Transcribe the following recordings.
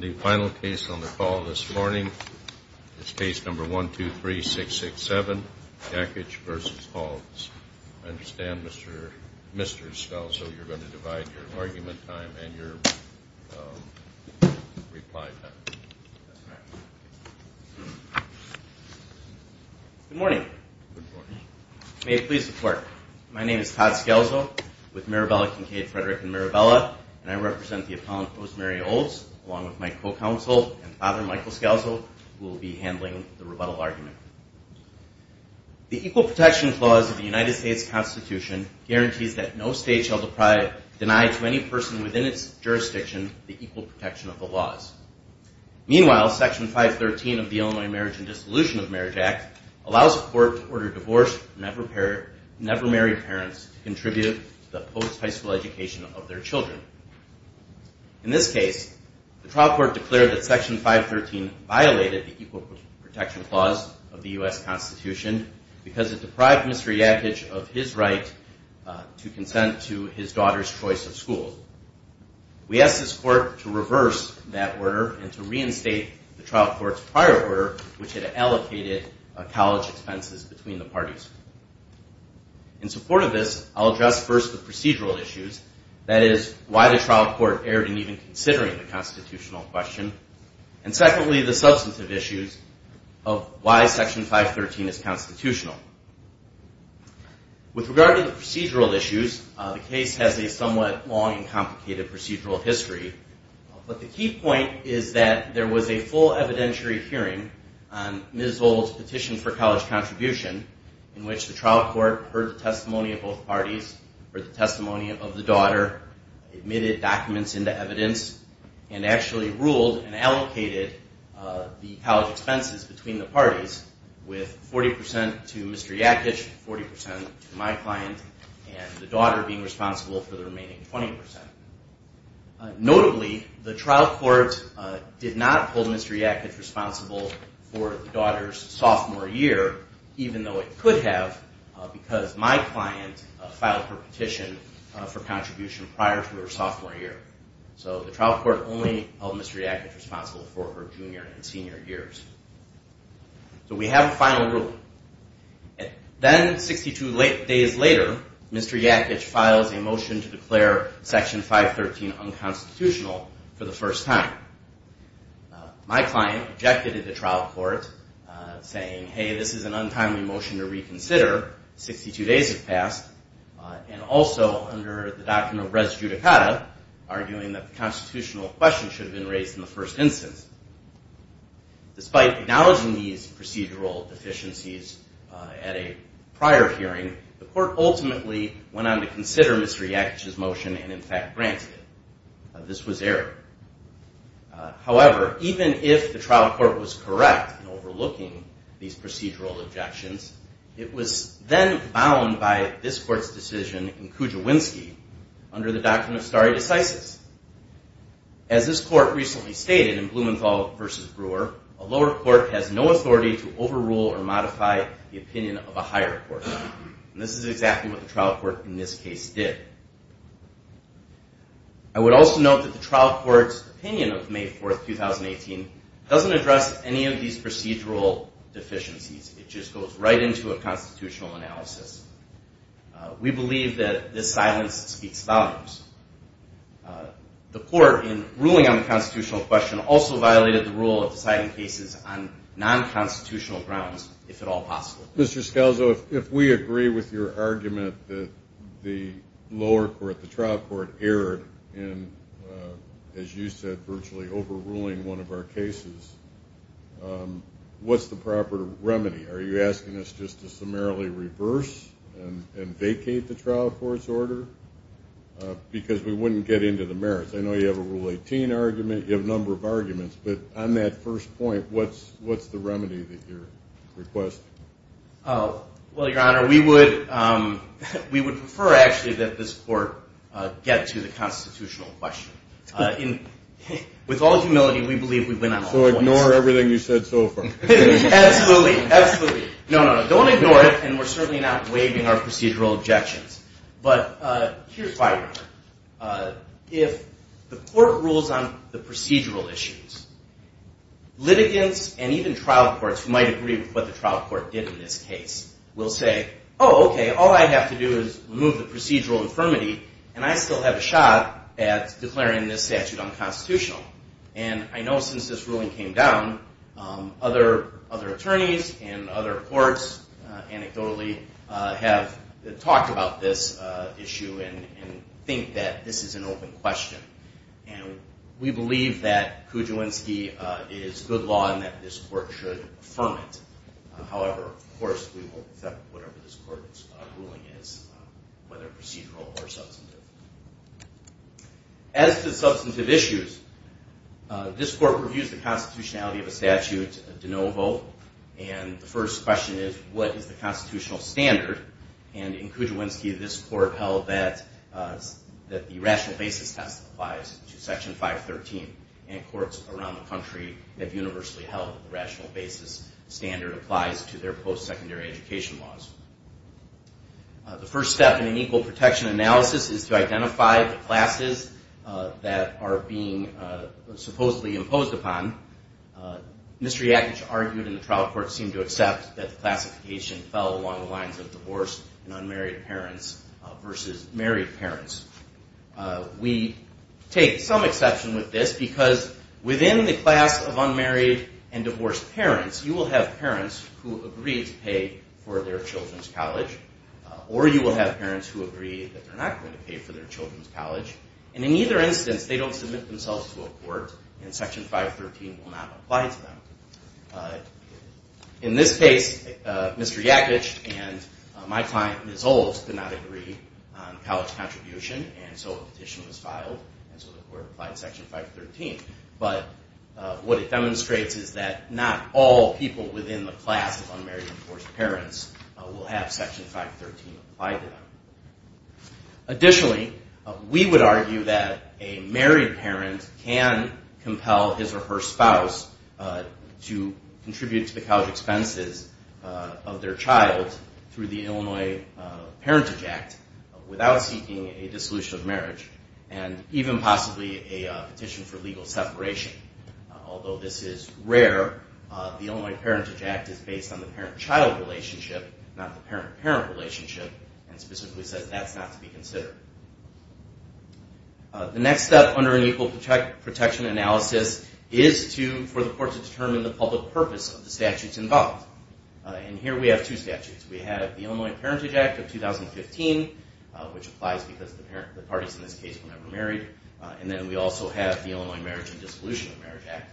The final case on the call this morning is case number 1, 2, 3, 6, 6, 7, Jakich v. Aulds. I understand, Mr. Skelzo, you're going to divide your argument time and your reply time. That's correct. Good morning. Good morning. May it please the Court. My name is Todd Skelzo with Mirabella, Kincaid, Frederick & Mirabella, and I represent the appellant, Rosemary Aulds, along with my co-counsel and father, Michael Skelzo, who will be handling the rebuttal argument. The Equal Protection Clause of the United States Constitution guarantees that no state shall deny to any person within its jurisdiction the equal protection of the laws. Meanwhile, Section 513 of the Illinois Marriage and Dissolution of Marriage Act allows a court to order divorced, never married parents to contribute to the post-high school education of their children. In this case, the trial court declared that Section 513 violated the Equal Protection Clause of the U.S. Constitution because it deprived Mr. Jakich of his right to consent to his daughter's choice of school. We asked this court to reverse that order and to reinstate the trial court's prior order, which had allocated college expenses between the parties. In support of this, I'll address first the procedural issues, that is, why the trial court erred in even considering the constitutional question, and secondly, the substantive issues of why Section 513 is constitutional. With regard to the procedural issues, the case has a somewhat long and complicated procedural history, but the key point is that there was a full evidentiary hearing on Ms. Old's petition for college contribution, in which the trial court heard the testimony of both parties, heard the testimony of the daughter, admitted documents into evidence, and actually ruled and allocated the college expenses between the parties with 40 percent to Mr. Jakich, 40 percent to my client, and the daughter being responsible for the remaining 20 percent. Notably, the trial court did not hold Mr. Jakich responsible for the daughter's sophomore year, even though it could have, because my client filed her petition for contribution prior to her sophomore year. So the trial court only held Mr. Jakich responsible for her junior and senior years. So we have a final ruling. Then, 62 days later, Mr. Jakich files a motion to declare Section 513 unconstitutional for the first time. My client objected to the trial court, saying, hey, this is an untimely motion to reconsider. 62 days have passed, and also under the doctrine of res judicata, arguing that the constitutional question should have been raised in the first instance. Despite acknowledging these procedural deficiencies at a prior hearing, the court ultimately went on to consider Mr. Jakich's motion and, in fact, granted it. This was error. However, even if the trial court was correct in overlooking these procedural objections, it was then bound by this court's decision in Kujawinski under the doctrine of stare decisis. As this court recently stated in Blumenthal v. Brewer, a lower court has no authority to overrule or modify the opinion of a higher court. And this is exactly what the trial court in this case did. I would also note that the trial court's opinion of May 4, 2018, doesn't address any of these procedural deficiencies. It just goes right into a constitutional analysis. We believe that this silence speaks volumes. The court, in ruling on the constitutional question, also violated the rule of deciding cases on nonconstitutional grounds, if at all possible. Mr. Scalzo, if we agree with your argument that the lower court, the trial court, erred in, as you said, virtually overruling one of our cases, what's the proper remedy? Are you asking us just to summarily reverse and vacate the trial court's order? Because we wouldn't get into the merits. I know you have a Rule 18 argument. You have a number of arguments. But on that first point, what's the remedy that you're requesting? Well, Your Honor, we would prefer, actually, that this court get to the constitutional question. With all humility, we believe we've been on all points. So ignore everything you've said so far. Absolutely, absolutely. No, no, no. Don't ignore it, and we're certainly not waiving our procedural objections. But here's why, Your Honor. If the court rules on the procedural issues, litigants and even trial courts, who might agree with what the trial court did in this case, will say, oh, okay, all I have to do is remove the procedural infirmity, and I still have a shot at declaring this statute unconstitutional. And I know since this ruling came down, other attorneys and other courts, anecdotally, have talked about this issue and think that this is an open question. And we believe that Kudziewinski is good law and that this court should affirm it. However, of course, we will accept whatever this court's ruling is, whether procedural or substantive. As to substantive issues, this court reviews the constitutionality of a statute de novo. And the first question is, what is the constitutional standard? And in Kudziewinski, this court held that the rational basis test applies to Section 513, and courts around the country have universally held that the rational basis standard applies to their post-secondary education laws. The first step in an equal protection analysis is to identify the classes that are being supposedly imposed upon. Mr. Yakich argued, and the trial court seemed to accept, that the classification fell along the lines of divorced and unmarried parents versus married parents. We take some exception with this because within the class of unmarried and divorced parents, you will have parents who agree to pay for their children's college, or you will have parents who agree that they're not going to pay for their children's college. And in either instance, they don't submit themselves to a court, and Section 513 will not apply to them. In this case, Mr. Yakich and my client, Ms. Olds, did not agree on college contribution, and so a petition was filed, and so the court applied Section 513. But what it demonstrates is that not all people within the class of unmarried and divorced parents will have Section 513 applied to them. Additionally, we would argue that a married parent can compel his or her spouse to contribute to the college expenses of their child through the Illinois Parentage Act without seeking a dissolution of marriage, and even possibly a petition for legal separation. Although this is rare, the Illinois Parentage Act is based on the parent-child relationship, not the parent-parent relationship, and specifically says that's not to be considered. The next step under an equal protection analysis is for the court to determine the public purpose of the statutes involved, and here we have two statutes. We have the Illinois Parentage Act of 2015, which applies because the parties in this case were never married, and then we also have the Illinois Marriage and Dissolution of Marriage Act,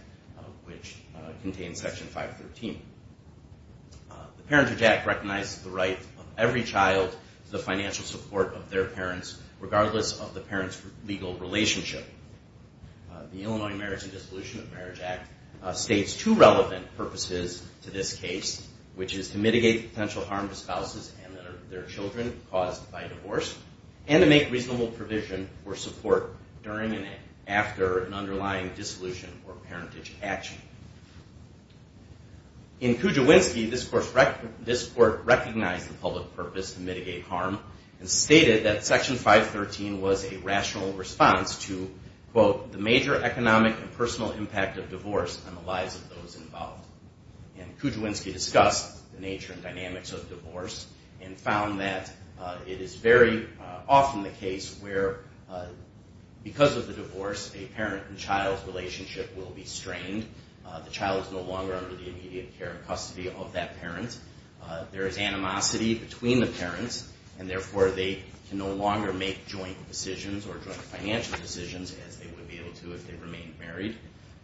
which contains Section 513. The Parentage Act recognizes the right of every child to the financial support of their parents, regardless of the parent's legal relationship. The Illinois Marriage and Dissolution of Marriage Act states two relevant purposes to this case, which is to mitigate the potential harm to spouses and their children caused by divorce, and to make reasonable provision or support during and after an underlying dissolution or parentage action. In Kujawinski, this court recognized the public purpose to mitigate harm and stated that Section 513 was a rational response to, quote, the major economic and personal impact of divorce on the lives of those involved. And Kujawinski discussed the nature and dynamics of divorce and found that it is very often the case where because of the divorce, a parent and child's relationship will be strained. The child is no longer under the immediate care and custody of that parent. There is animosity between the parents, and therefore they can no longer make joint decisions or joint financial decisions as they would be able to if they remained married.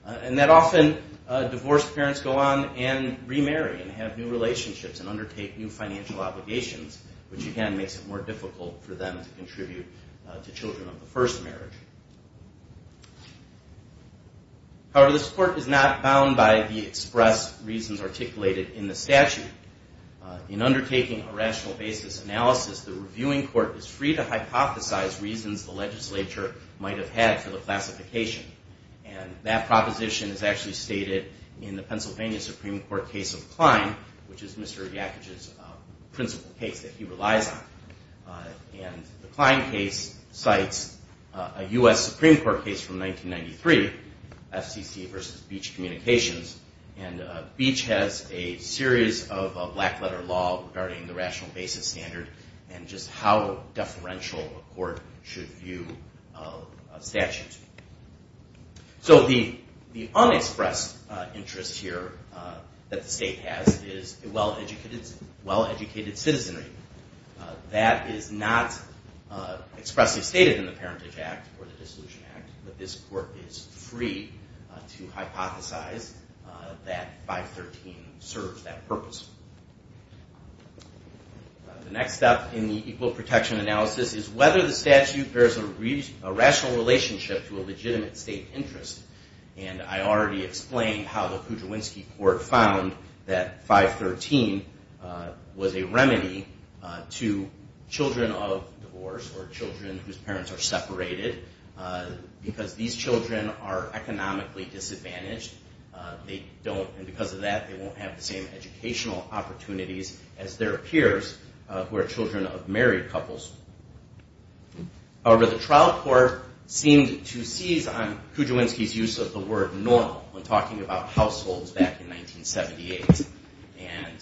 And that often divorced parents go on and remarry and have new relationships and undertake new financial obligations, which again makes it more difficult for them to contribute to children of the first marriage. However, this court is not bound by the express reasons articulated in the statute. In undertaking a rational basis analysis, the reviewing court is free to hypothesize reasons the legislature might have had for the classification. And that proposition is actually stated in the Pennsylvania Supreme Court case of Klein, which is Mr. Yakich's principal case that he relies on. And the Klein case cites a U.S. Supreme Court case from 1993, FCC versus Beach Communications. And Beach has a series of black-letter law regarding the rational basis standard and just how deferential a court should view statutes. So the unexpressed interest here that the state has is a well-educated citizenry. That is not expressly stated in the Parentage Act or the Dissolution Act, but this court is free to hypothesize that 513 serves that purpose. The next step in the equal protection analysis is whether the statute bears a rational relationship to a legitimate state interest. And I already explained how the Kudrwinski court found that 513 was a remedy to children of divorce or children whose parents are separated because these children are economically disadvantaged. And because of that, they won't have the same educational opportunities as their peers who are children of married couples. However, the trial court seemed to seize on Kudrwinski's use of the word normal when talking about households back in 1978. And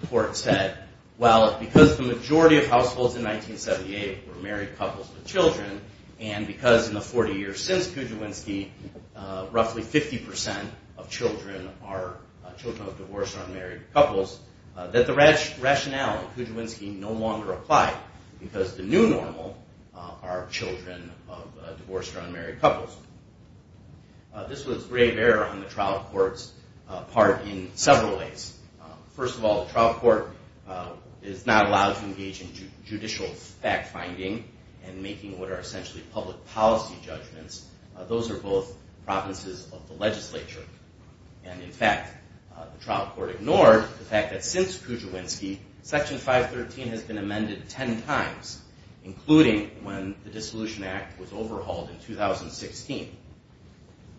the court said, well, because the majority of households in 1978 were married couples with children, and because in the 40 years since Kudrwinski, roughly 50% of children are children of divorce or unmarried couples, that the rationale of Kudrwinski no longer applied because the new normal are children of divorce or unmarried couples. This was grave error on the trial court's part in several ways. First of all, the trial court is not allowed to engage in judicial fact-finding and making what are essentially public policy judgments. Those are both provinces of the legislature. And in fact, the trial court ignored the fact that since Kudrwinski, Section 513 has been amended 10 times, including when the Dissolution Act was overhauled in 2016.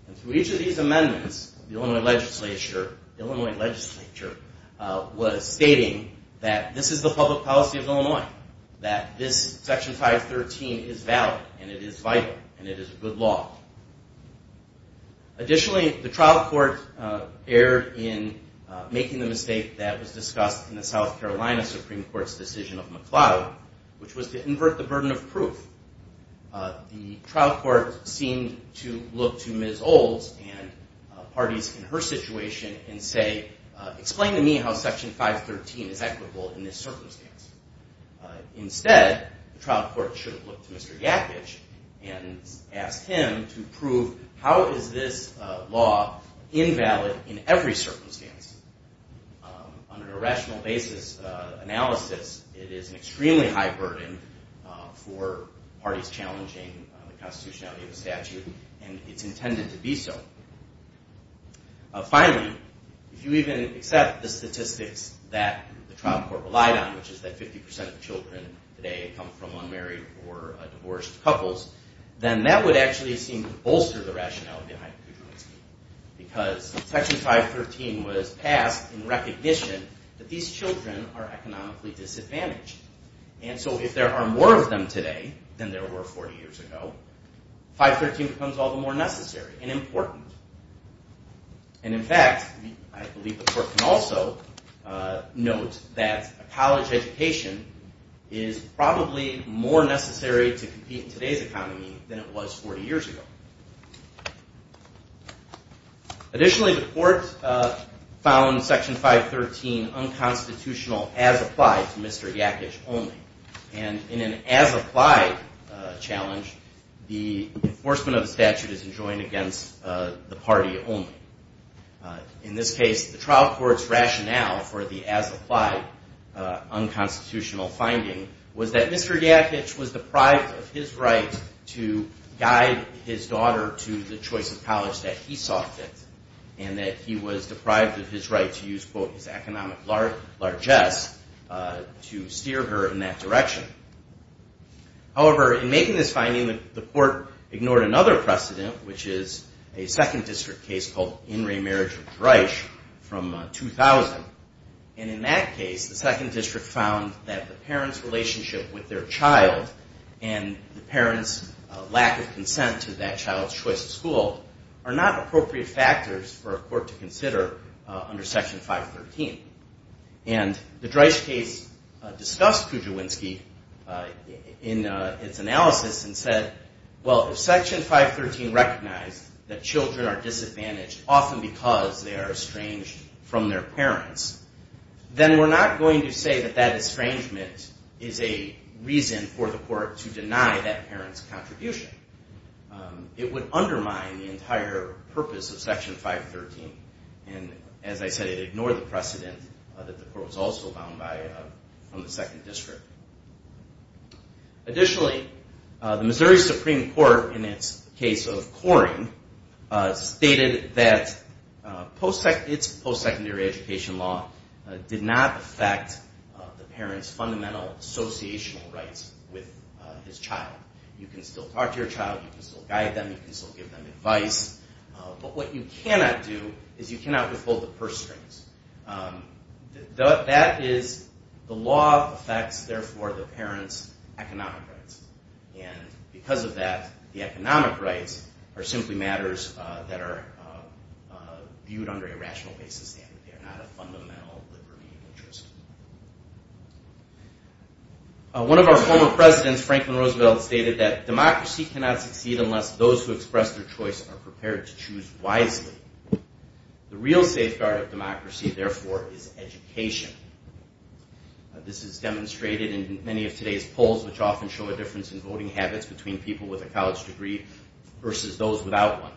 And through each of these amendments, the Illinois legislature was stating that this is the public policy of Illinois, that this Section 513 is valid, and it is vital, and it is a good law. Additionally, the trial court erred in making the mistake that was discussed in the South Carolina Supreme Court's decision of McLeod, which was to invert the burden of proof. The trial court seemed to look to Ms. Olds and parties in her situation and say, explain to me how Section 513 is equitable in this circumstance. Instead, the trial court should have looked to Mr. Yakich and asked him to prove how is this law invalid in every circumstance. On a rational basis analysis, it is an extremely high burden for parties challenging the constitutionality of the statute, and it's intended to be so. Finally, if you even accept the statistics that the trial court relied on, which is that 50% of children today come from unmarried or divorced couples, then that would actually seem to bolster the rationale behind Kudrwinski, because Section 513 was passed in recognition that these children are economically disadvantaged. And so if there are more of them today than there were 40 years ago, 513 becomes all the more necessary and important. And in fact, I believe the court can also note that a college education is probably more necessary to compete in today's economy than it was 40 years ago. Additionally, the court found Section 513 unconstitutional as applied to Mr. Yakich only. And in an as-applied challenge, the enforcement of the statute is enjoined against the party only. In this case, the trial court's rationale for the as-applied unconstitutional finding was that Mr. Yakich was deprived of his right to guide his daughter to the choice of college that he saw fit, and that he was deprived of his right to use, quote, his economic largesse to steer her in that direction. However, in making this finding, the court ignored another precedent, which is a Second District case called In Re Marriage with Reich from 2000. And in that case, the Second District found that the parent's relationship with their child and the parent's lack of consent to that child's choice of school are not appropriate factors for a court to consider under Section 513. And the Reich case discussed Kujawinski in its analysis and said, well, if Section 513 recognized that children are disadvantaged often because they are estranged from their parents, then we're not going to say that that estrangement is a reason for the court to deny that parent's contribution. It would undermine the entire purpose of Section 513. And as I said, it ignored the precedent that the court was also bound by from the Second District. Additionally, the Missouri Supreme Court, in its case of Coring, stated that its post-secondary education law did not affect the parent's fundamental associational rights with his child. You can still talk to your child. You can still guide them. You can still give them advice. But what you cannot do is you cannot withhold the purse strings. That is, the law affects, therefore, the parent's economic rights. And because of that, the economic rights are simply matters that are viewed under a rational basis. They are not a fundamental liberty interest. One of our former presidents, Franklin Roosevelt, stated that democracy cannot succeed unless those who express their choice are prepared to choose wisely. The real safeguard of democracy, therefore, is education. This is demonstrated in many of today's polls, which often show a difference in voting habits between people with a college degree versus those without one.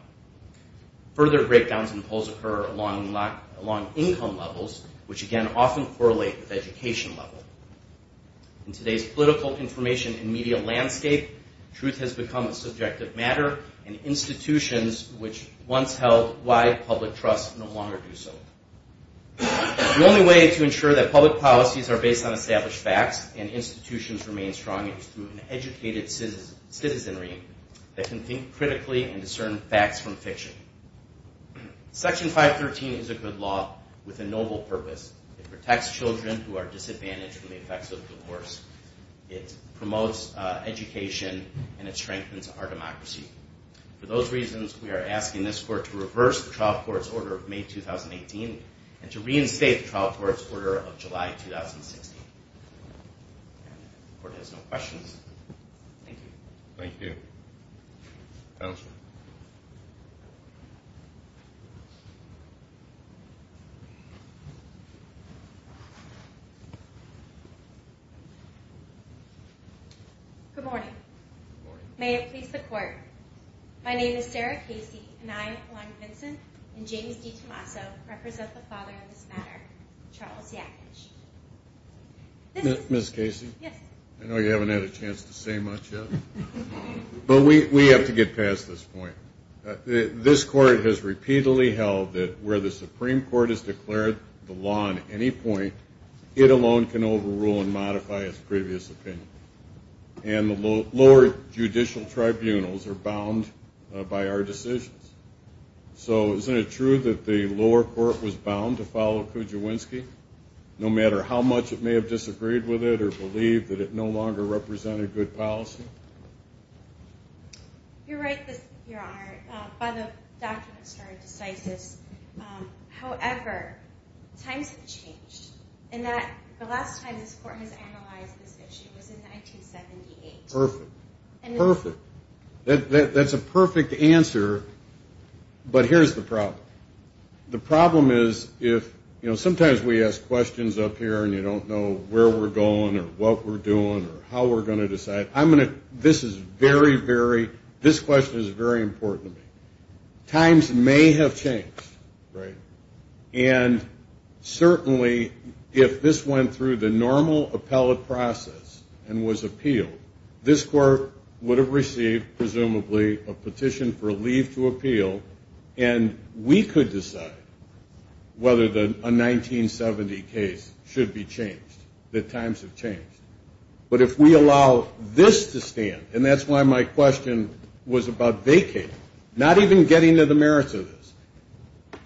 Further breakdowns in polls occur along income levels, which again often correlate with education level. In today's political information and media landscape, truth has become a subjective matter, and institutions which once held wide public trust no longer do so. The only way to ensure that public policies are based on established facts and institutions remain strong is through an educated citizenry that can think critically and discern facts from fiction. Section 513 is a good law with a noble purpose. It protects children who are disadvantaged from the effects of divorce. It promotes education, and it strengthens our democracy. For those reasons, we are asking this court to reverse the trial court's order of May 2018 and to reinstate the trial court's order of July 2016. If the court has no questions, thank you. Thank you. Counsel. Good morning. Good morning. May it please the court. My name is Sarah Casey, and I, along with Vincent and James D. Tommaso, represent the father of this matter, Charles Yakich. Ms. Casey? Yes. I know you haven't had a chance to say much yet, but we have to get past this point. This court has repeatedly held that where the Supreme Court has declared the law on any point, it alone can overrule and modify its previous opinion. And the lower judicial tribunals are bound by our decisions. So isn't it true that the lower court was bound to follow Kujawinski, no matter how much it may have disagreed with it or believed that it no longer represented good policy? You're right, Your Honor. By the document, it's very decisive. However, times have changed. And the last time this court has analyzed this issue was in 1978. Perfect. Perfect. That's a perfect answer. But here's the problem. The problem is if, you know, sometimes we ask questions up here and you don't know where we're going or what we're doing or how we're going to decide. I'm going to – this is very, very – this question is very important to me. Times may have changed, right? And certainly if this went through the normal appellate process and was appealed, this court would have received presumably a petition for a leave to appeal and we could decide whether a 1970 case should be changed, that times have changed. But if we allow this to stand, and that's why my question was about vacating, not even getting to the merits of this,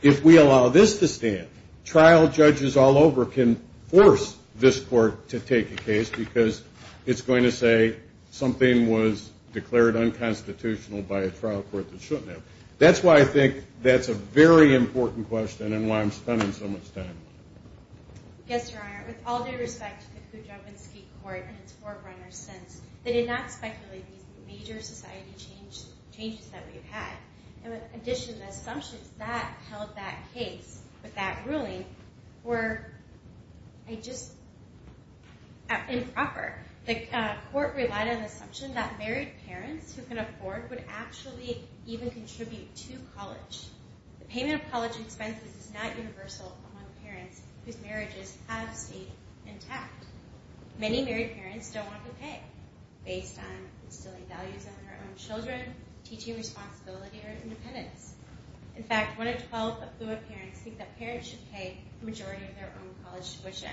if we allow this to stand, trial judges all over can force this court to take a case because it's going to say something was declared unconstitutional by a trial court that shouldn't have. That's why I think that's a very important question and why I'm spending so much time on it. Yes, Your Honor. With all due respect to the Kujawinski Court and its forerunners since, they did not speculate these major society changes that we've had. In addition, the assumptions that held that case with that ruling were just improper. The court relied on the assumption that married parents who can afford would actually even contribute to college. The payment of college expenses is not universal among parents whose marriages have stayed intact. Many married parents don't want to pay based on instilling values in their own children, teaching responsibility, or independence. In fact, one in 12 affluent parents think that parents should pay the majority of their own college tuition.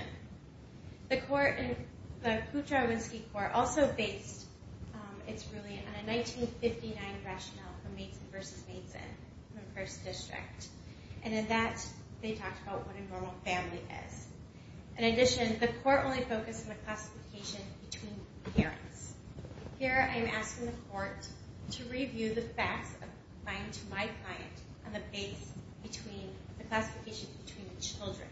The Kujawinski Court also based its ruling on a 1959 rationale for Mason versus Mason in the first district. And in that, they talked about what a normal family is. In addition, the court only focused on the classification between parents. Here, I'm asking the court to review the facts of mine to my client on the base between the classification between the children.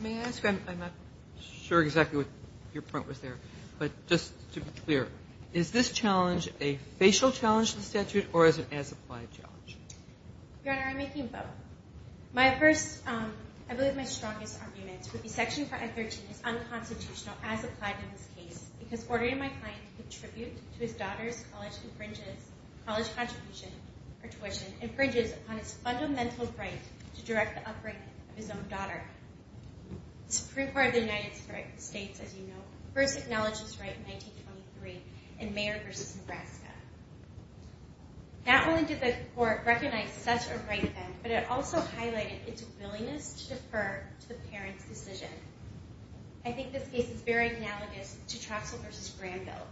May I ask? I'm not sure exactly what your point was there. But just to be clear, is this challenge a facial challenge to the statute or as an as-applied challenge? Your Honor, I'm making both. My first, I believe my strongest argument would be Section 513 is unconstitutional as applied in this case because ordering my client to contribute to his daughter's college contribution or tuition infringes upon his fundamental right to direct the upbringing of his own daughter. The Supreme Court of the United States, as you know, first acknowledged this right in Mayer versus Nebraska. Not only did the court recognize such a right then, but it also highlighted its willingness to defer to the parent's decision. I think this case is very analogous to Troxell versus Granville.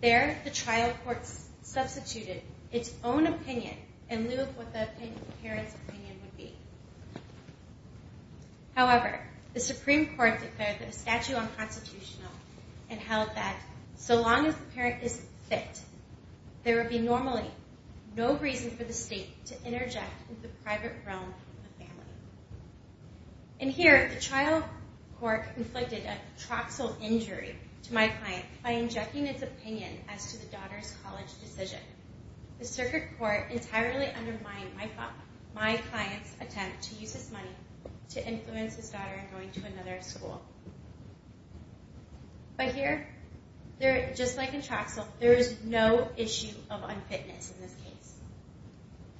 There, the trial court substituted its own opinion in lieu of what the parent's opinion would be. However, the Supreme Court declared that the statute unconstitutional and held that so long as the parent is fit, there would be normally no reason for the state to interject in the private realm of the family. In here, the trial court inflicted a Troxell injury to my client by injecting its opinion as to the daughter's college decision. The circuit court entirely undermined my client's attempt to use his money to influence his daughter in going to another school. But here, just like in Troxell, there is no issue of unfitness in this case.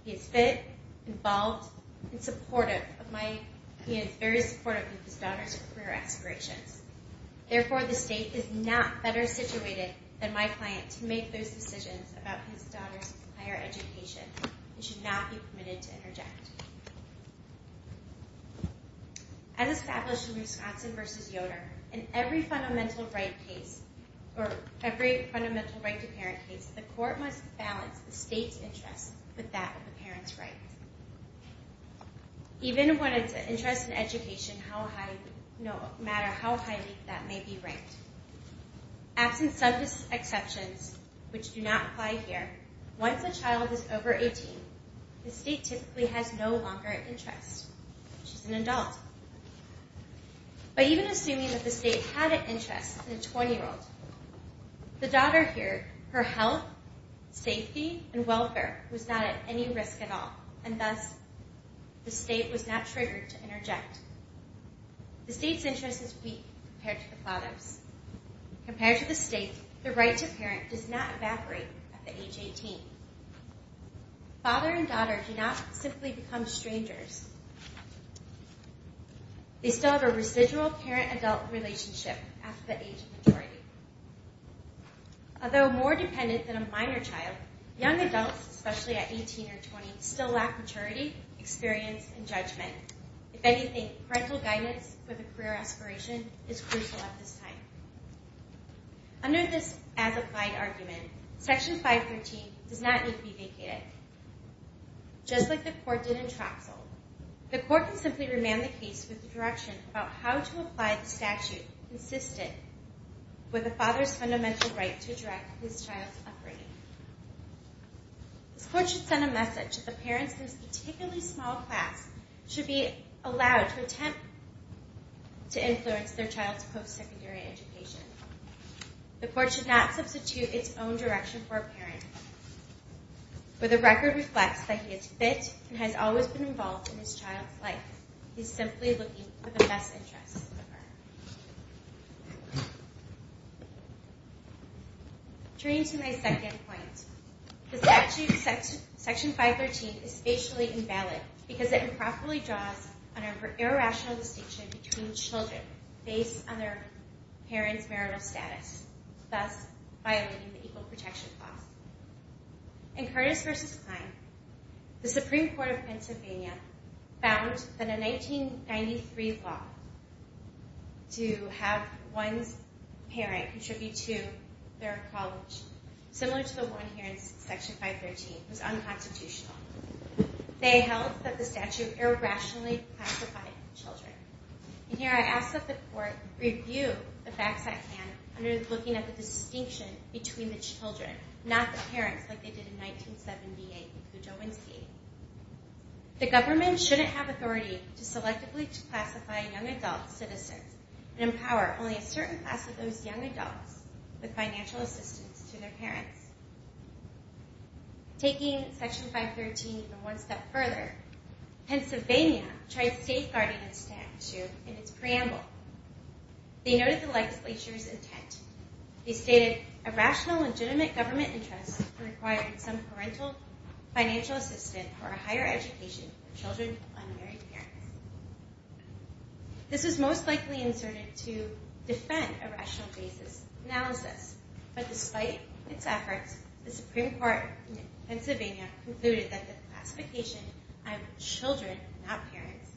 He is fit, involved, and supportive of my... He is very supportive of his daughter's career aspirations. Therefore, the state is not better situated than my client to make those decisions about his daughter's higher education. It should not be permitted to interject. As established in Wisconsin versus Yoder, in every fundamental right case, or every fundamental right-to-parent case, the court must balance the state's interest with that of the parent's right. Even when it's an interest in education, no matter how highly that may be ranked. Absent some exceptions, which do not apply here, once a child is over 18, the state typically has no longer an interest. She's an adult. But even assuming that the state had an interest in a 20-year-old, the daughter here, her health, safety, and welfare was not at any risk at all. And thus, the state was not triggered to interject. The state's interest is weak compared to the father's. Compared to the state, the right-to-parent does not evaporate at the age of 18. Father and daughter do not simply become strangers. They still have a residual parent-adult relationship after the age of maturity. Although more dependent than a minor child, young adults, especially at 18 or 20, still lack maturity, experience, and judgment. If anything, parental guidance for the career aspiration is crucial at this time. Under this as-applied argument, Section 513 does not need to be vacated. Just like the court did in Troxel, the court can simply remand the case with a direction about how to apply the statute consistent with the father's fundamental right to direct his child's upbringing. This court should send a message that the parents in this particularly small class should be allowed to attempt to influence their child's post-secondary education. The court should not substitute its own direction for a parent. For the record reflects that he is fit and has always been involved in his child's life. He's simply looking for the best interests of her. Turning to my second point, the statute, Section 513, is spatially invalid because it improperly draws an irrational distinction between children based on their parents' marital status, thus violating the Equal Protection Clause. In Curtis v. Klein, the Supreme Court of Pennsylvania found that a 1993 law to have one parent contribute to their college, similar to the one here in Section 513, was unconstitutional. They held that the statute irrationally classified children. And here I ask that the court review the facts at hand under looking at the distinction between the children, not the parents, like they did in 1978 with Kudzowinski. The government shouldn't have authority to selectively classify young adult citizens and empower only a certain class of those young adults with financial assistance to their parents. Taking Section 513 one step further, Pennsylvania tried safeguarding the statute in its preamble. They noted the legislature's intent. They stated a rational, legitimate government interest required some parental financial assistance or a higher education for children of unmarried parents. This is most likely inserted to defend a rational basis analysis, but despite its efforts, the Supreme Court in Pennsylvania concluded that the classification of children, not parents,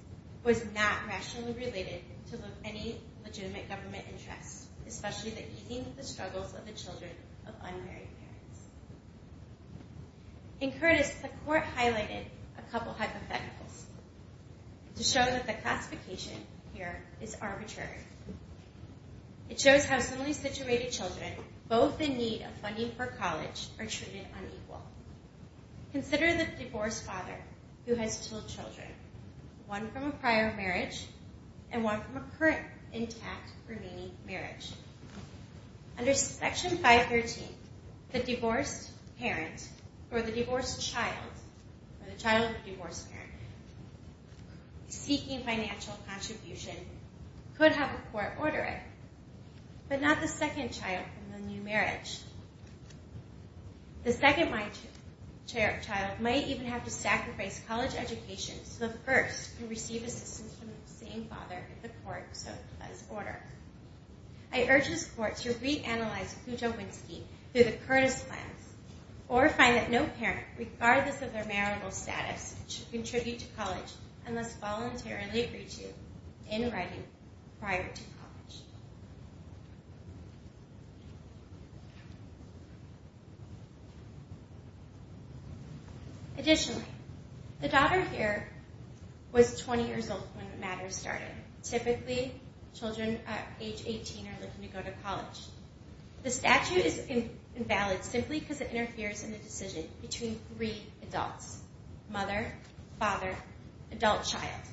was not rationally related to any legitimate government interest, especially the easing of the struggles of the children of unmarried parents. In Curtis, the court highlighted a couple hypotheticals to show that the classification here is arbitrary. It shows how similarly situated children, both in need of funding for college, are treated unequal. Consider the divorced father who has two children, one from a prior marriage and one from a current intact remaining marriage. Under Section 513, the divorced parent or the divorced child, or the child of a divorced parent, seeking financial contribution, could have a court order it, but not the second child from the new marriage. The second child might even have to sacrifice college education so the first can receive assistance from the same father if the court so does order. I urge this court to reanalyze Kujawinski through the Curtis plans or find that no parent, regardless of their marital status, should contribute to college unless voluntarily agreed to in writing prior to college. Additionally, the daughter here was 20 years old when the matter started. Typically, children at age 18 are looking to go to college. The statute is invalid simply because it interferes in the decision between three adults, mother, father, adult child.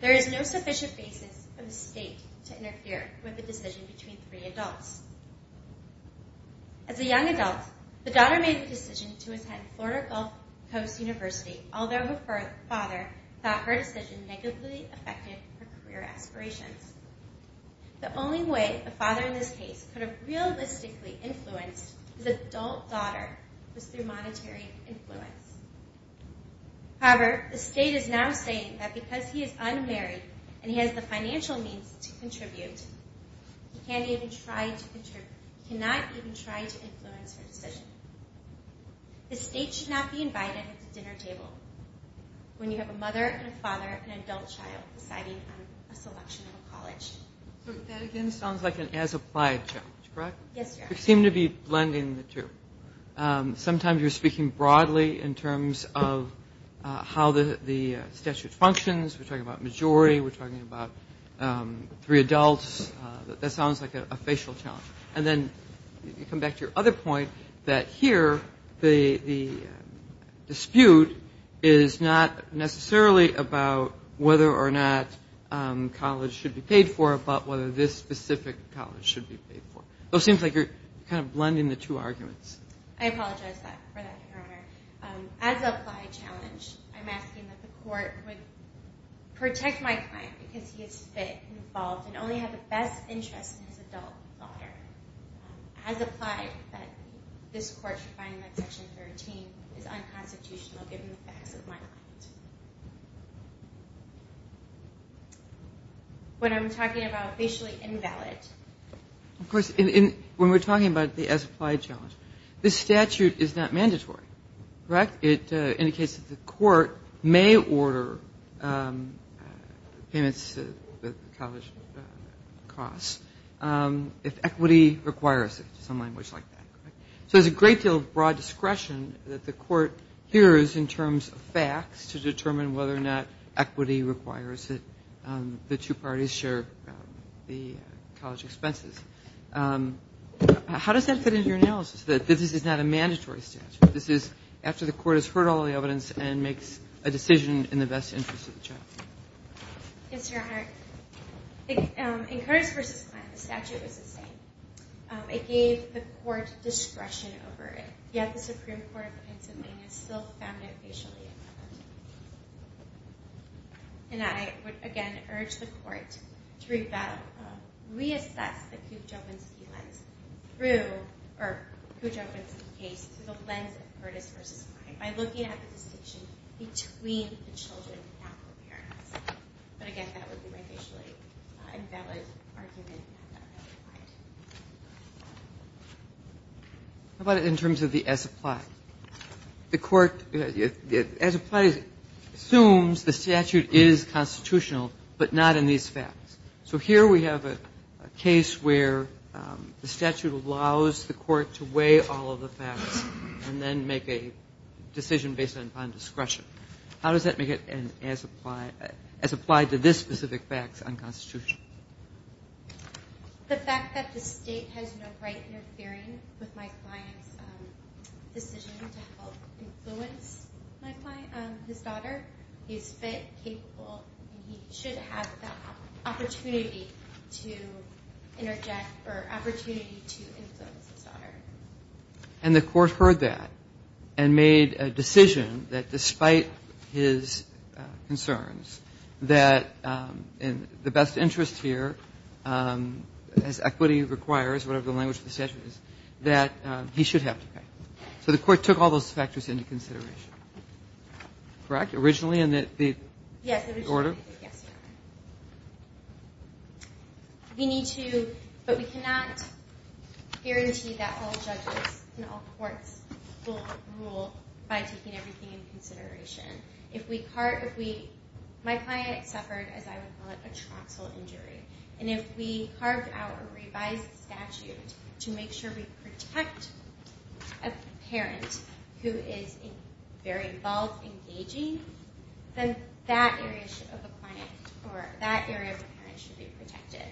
There is no sufficient basis for the state to interfere with the decision between three adults. As a young adult, the daughter made the decision to attend Florida Gulf Coast University, although her father thought her decision negatively affected her career aspirations. The only way a father in this case could have realistically influenced his adult daughter was through monetary influence. However, the state is now saying that because he is unmarried and he has the financial means to contribute, he cannot even try to influence her decision. The state should not be invited at the dinner table when you have a mother and a father and an adult child deciding on a selection of a college. That again sounds like an as-applied challenge, correct? Yes. You seem to be blending the two. Sometimes you're speaking broadly in terms of how the statute functions. We're talking about majority. We're talking about three adults. That sounds like a facial challenge. And then you come back to your other point that here the dispute is not necessarily about whether or not college should be paid for but whether this specific college should be paid for. It seems like you're kind of blending the two arguments. I apologize for that, Your Honor. As an applied challenge, I'm asking that the court would protect my client because he is fit and involved and only has a best interest in his adult daughter. As applied, this court should find that Section 13 is unconstitutional given the facts of my client. What I'm talking about, facially invalid. Of course, when we're talking about the as-applied challenge, this statute is not mandatory, correct? It indicates that the court may order payments to the college costs if equity requires it, some language like that. So there's a great deal of broad discretion that the court hears in terms of facts to determine whether or not equity requires that the two parties share the college expenses. How does that fit into your analysis, that this is not a mandatory statute? This is after the court has heard all the evidence and makes a decision in the best interest of the child. Yes, Your Honor. In Curtis v. Kline, the statute was the same. It gave the court discretion over it. Yet the Supreme Court of Pennsylvania still found it facially invalid. And I would, again, urge the court to reassess the Kujovinsky case through the lens of Curtis v. Kline by looking at the distinction between the children and their parents. But, again, that would be my facially invalid argument. How about in terms of the as-applied? The court, as-applied assumes the statute is constitutional, but not in these facts. So here we have a case where the statute allows the court to weigh all of the facts and then make a decision based on discretion. How does that make it as applied to this specific fact on constitution? The fact that the state has no right interfering with my client's decision to help influence his daughter. He's fit, capable, and he should have the opportunity to interject or opportunity to influence his daughter. And the court heard that and made a decision that, despite his concerns, that in the best interest here, as equity requires, whatever the language of the statute is, that he should have to pay. So the court took all those factors into consideration. Correct? Originally in the order? Yes. We need to, but we cannot guarantee that all judges and all courts will rule by taking everything into consideration. My client suffered, as I would call it, a troxel injury. And if we carved out a revised statute to make sure we protect a parent who is very involved, engaging, then that area of the parent should be protected.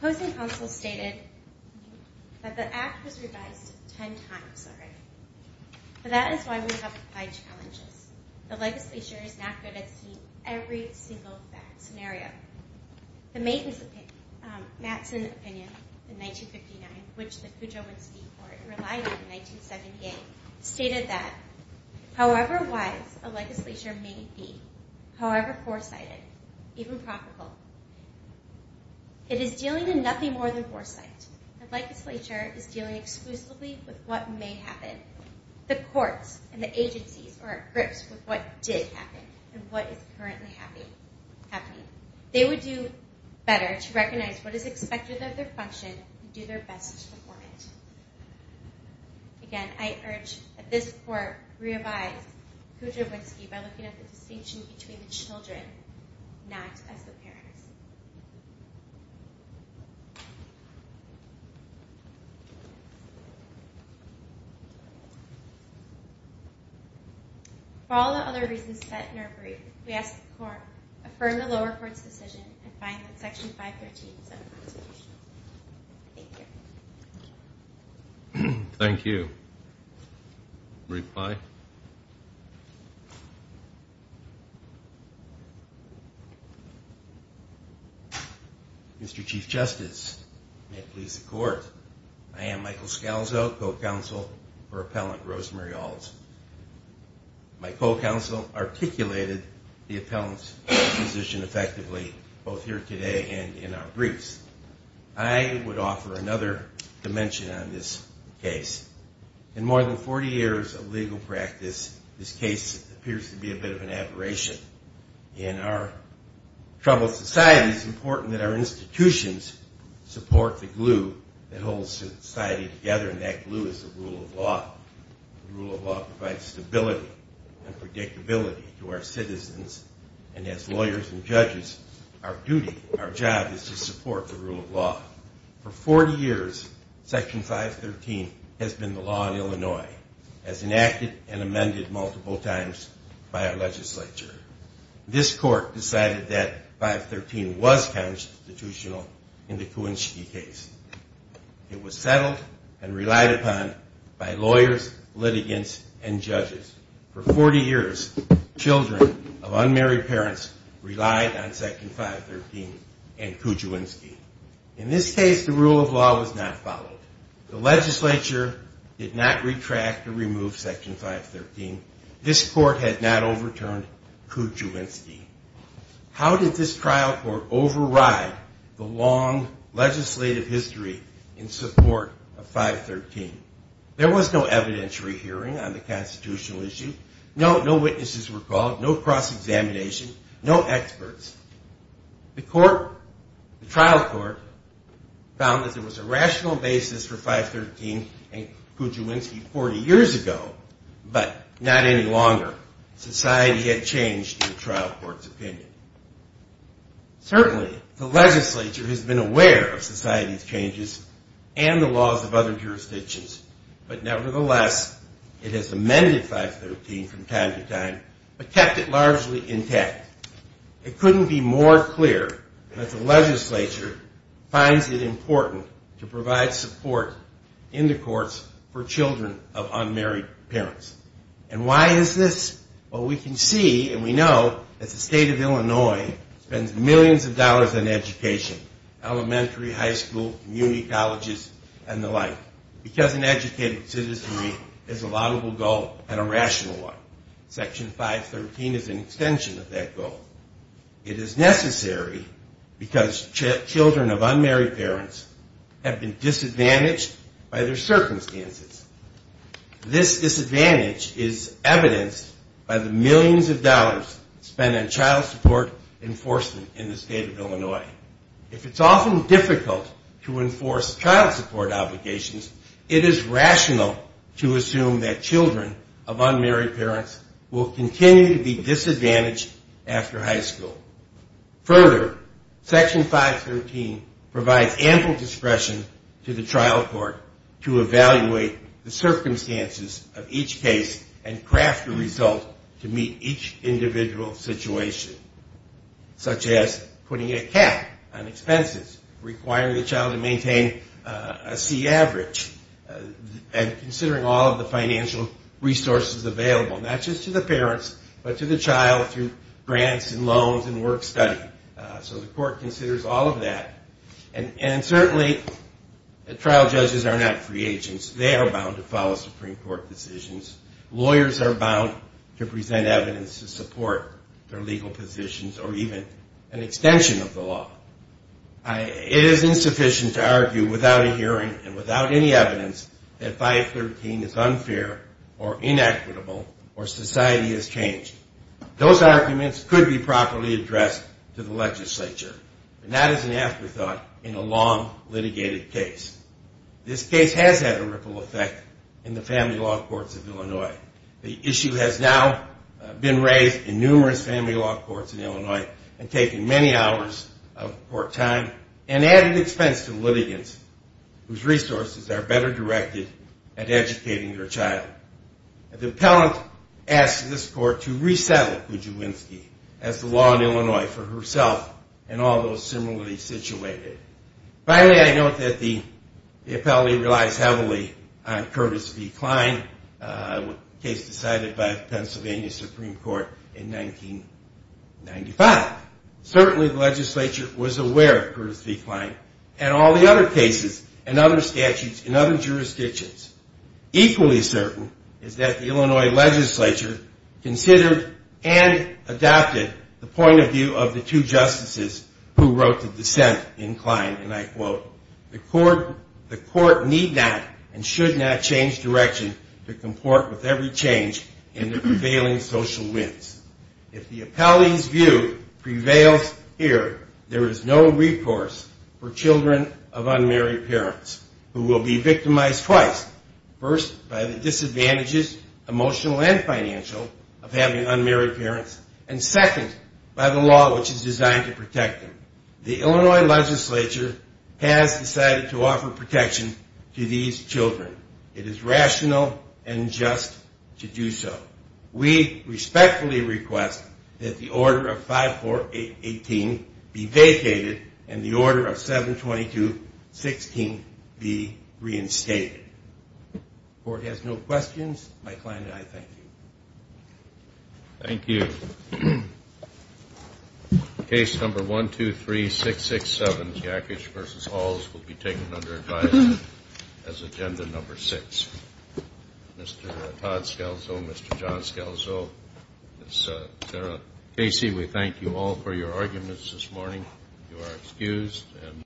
The opposing counsel stated that the act was revised 10 times already. But that is why we have applied challenges. The legislature is not good at seeing every single bad scenario. The maintenance opinion, Mattson opinion, in 1959, which the Cujo would speak for, it relied on in 1978, stated that however wise a legislature may be, however foresighted, even profitable, it is dealing with nothing more than foresight. The legislature is dealing exclusively with what may happen. The courts and the agencies are at grips with what did happen and what is currently happening. They would do better to recognize what is expected of their function and do their best to perform it. Again, I urge that this court revise Cujo Whiskey by looking at the distinction between the children, not as the parents. For all the other reasons set in our brief, we ask the court to affirm the lower court's decision and find that Section 513 is unconstitutional. Thank you. Thank you. Brief by. Mr. Chief Justice, may it please the court. I am Michael Scalzo, co-counsel for Appellant Rosemary Ault. My co-counsel articulated the appellant's position effectively both here today and in our briefs. I would offer another dimension on this case. In more than 40 years of legal practice, this case appears to be a bit of an aberration. In our troubled society, it's important that our institutions support the glue that holds society together, and that glue is the rule of law. The rule of law provides stability and predictability to our citizens, and as lawyers and judges, our duty, our job is to support the rule of law. For 40 years, Section 513 has been the law in Illinois, as enacted and amended multiple times by our legislature. This court decided that 513 was constitutional in the Cujo Whiskey case. It was settled and relied upon by lawyers, litigants, and judges. For 40 years, children of unmarried parents relied on Section 513 and Cujo Whiskey. In this case, the rule of law was not followed. The legislature did not retract or remove Section 513. This court had not overturned Cujo Whiskey. How did this trial court override the long legislative history in support of 513? There was no evidentiary hearing on the constitutional issue. No witnesses were called, no cross-examination, no experts. The trial court found that there was a rational basis for 513 and Cujo Whiskey 40 years ago, but not any longer. Society had changed in the trial court's opinion. Certainly, the legislature has been aware of society's changes and the laws of other jurisdictions. But nevertheless, it has amended 513 from time to time, but kept it largely intact. It couldn't be more clear that the legislature finds it important to provide support in the courts for children of unmarried parents. And why is this? Well, we can see and we know that the state of Illinois spends millions of dollars on education, elementary, high school, community colleges, and the like, because an educated citizenry is a laudable goal and a rational one. Section 513 is an extension of that goal. It is necessary because children of unmarried parents have been disadvantaged by their circumstances. This disadvantage is evidenced by the millions of dollars spent on child support enforcement in the state of Illinois. If it's often difficult to enforce child support obligations, it is rational to assume that children of unmarried parents will continue to be disadvantaged after high school. Further, Section 513 provides ample discretion to the trial court to evaluate the circumstances of each case and craft a result to meet each individual situation, such as putting a cap on expenses, requiring the child to maintain a C average, and considering all of the financial resources available, not just to the parents, but to the child through grants and loans and work-study. So the court considers all of that. And certainly trial judges are not free agents. They are bound to follow Supreme Court decisions. Lawyers are bound to present evidence to support their legal positions or even an extension of the law. It is insufficient to argue without a hearing and without any evidence that 513 is unfair or inequitable or society has changed. Those arguments could be properly addressed to the legislature, and that is an afterthought in a long litigated case. This case has had a ripple effect in the family law courts of Illinois. The issue has now been raised in numerous family law courts in Illinois and taken many hours of court time and added expense to litigants whose resources are better directed at educating their child. The appellant asks this court to resettle Kujawinski as the law in Illinois for herself and all those similarly situated. Finally, I note that the appellate relies heavily on Curtis V. Klein, a case decided by Pennsylvania Supreme Court in 1995. Certainly the legislature was aware of Curtis V. Klein and all the other cases and other statutes in other jurisdictions. Equally certain is that the Illinois legislature considered and adopted the point of view of the two justices who wrote the dissent in Klein, and I quote, the court need not and should not change direction to comport with every change in the prevailing social winds. If the appellant's view prevails here, there is no recourse for children of unmarried parents who will be victimized twice. First, by the disadvantages, emotional and financial, of having unmarried parents, and second, by the law which is designed to protect them. The Illinois legislature has decided to offer protection to these children. It is rational and just to do so. We respectfully request that the order of 5-4-18 be vacated and the order of 7-22-16 be reinstated. The court has no questions. Mike Klein and I thank you. Thank you. Case number 123667, Jackich v. Halls, will be taken under advice as agenda number six. Mr. Todd Scalzo, Mr. John Scalzo, Sarah Casey, we thank you all for your arguments this morning. You are excused.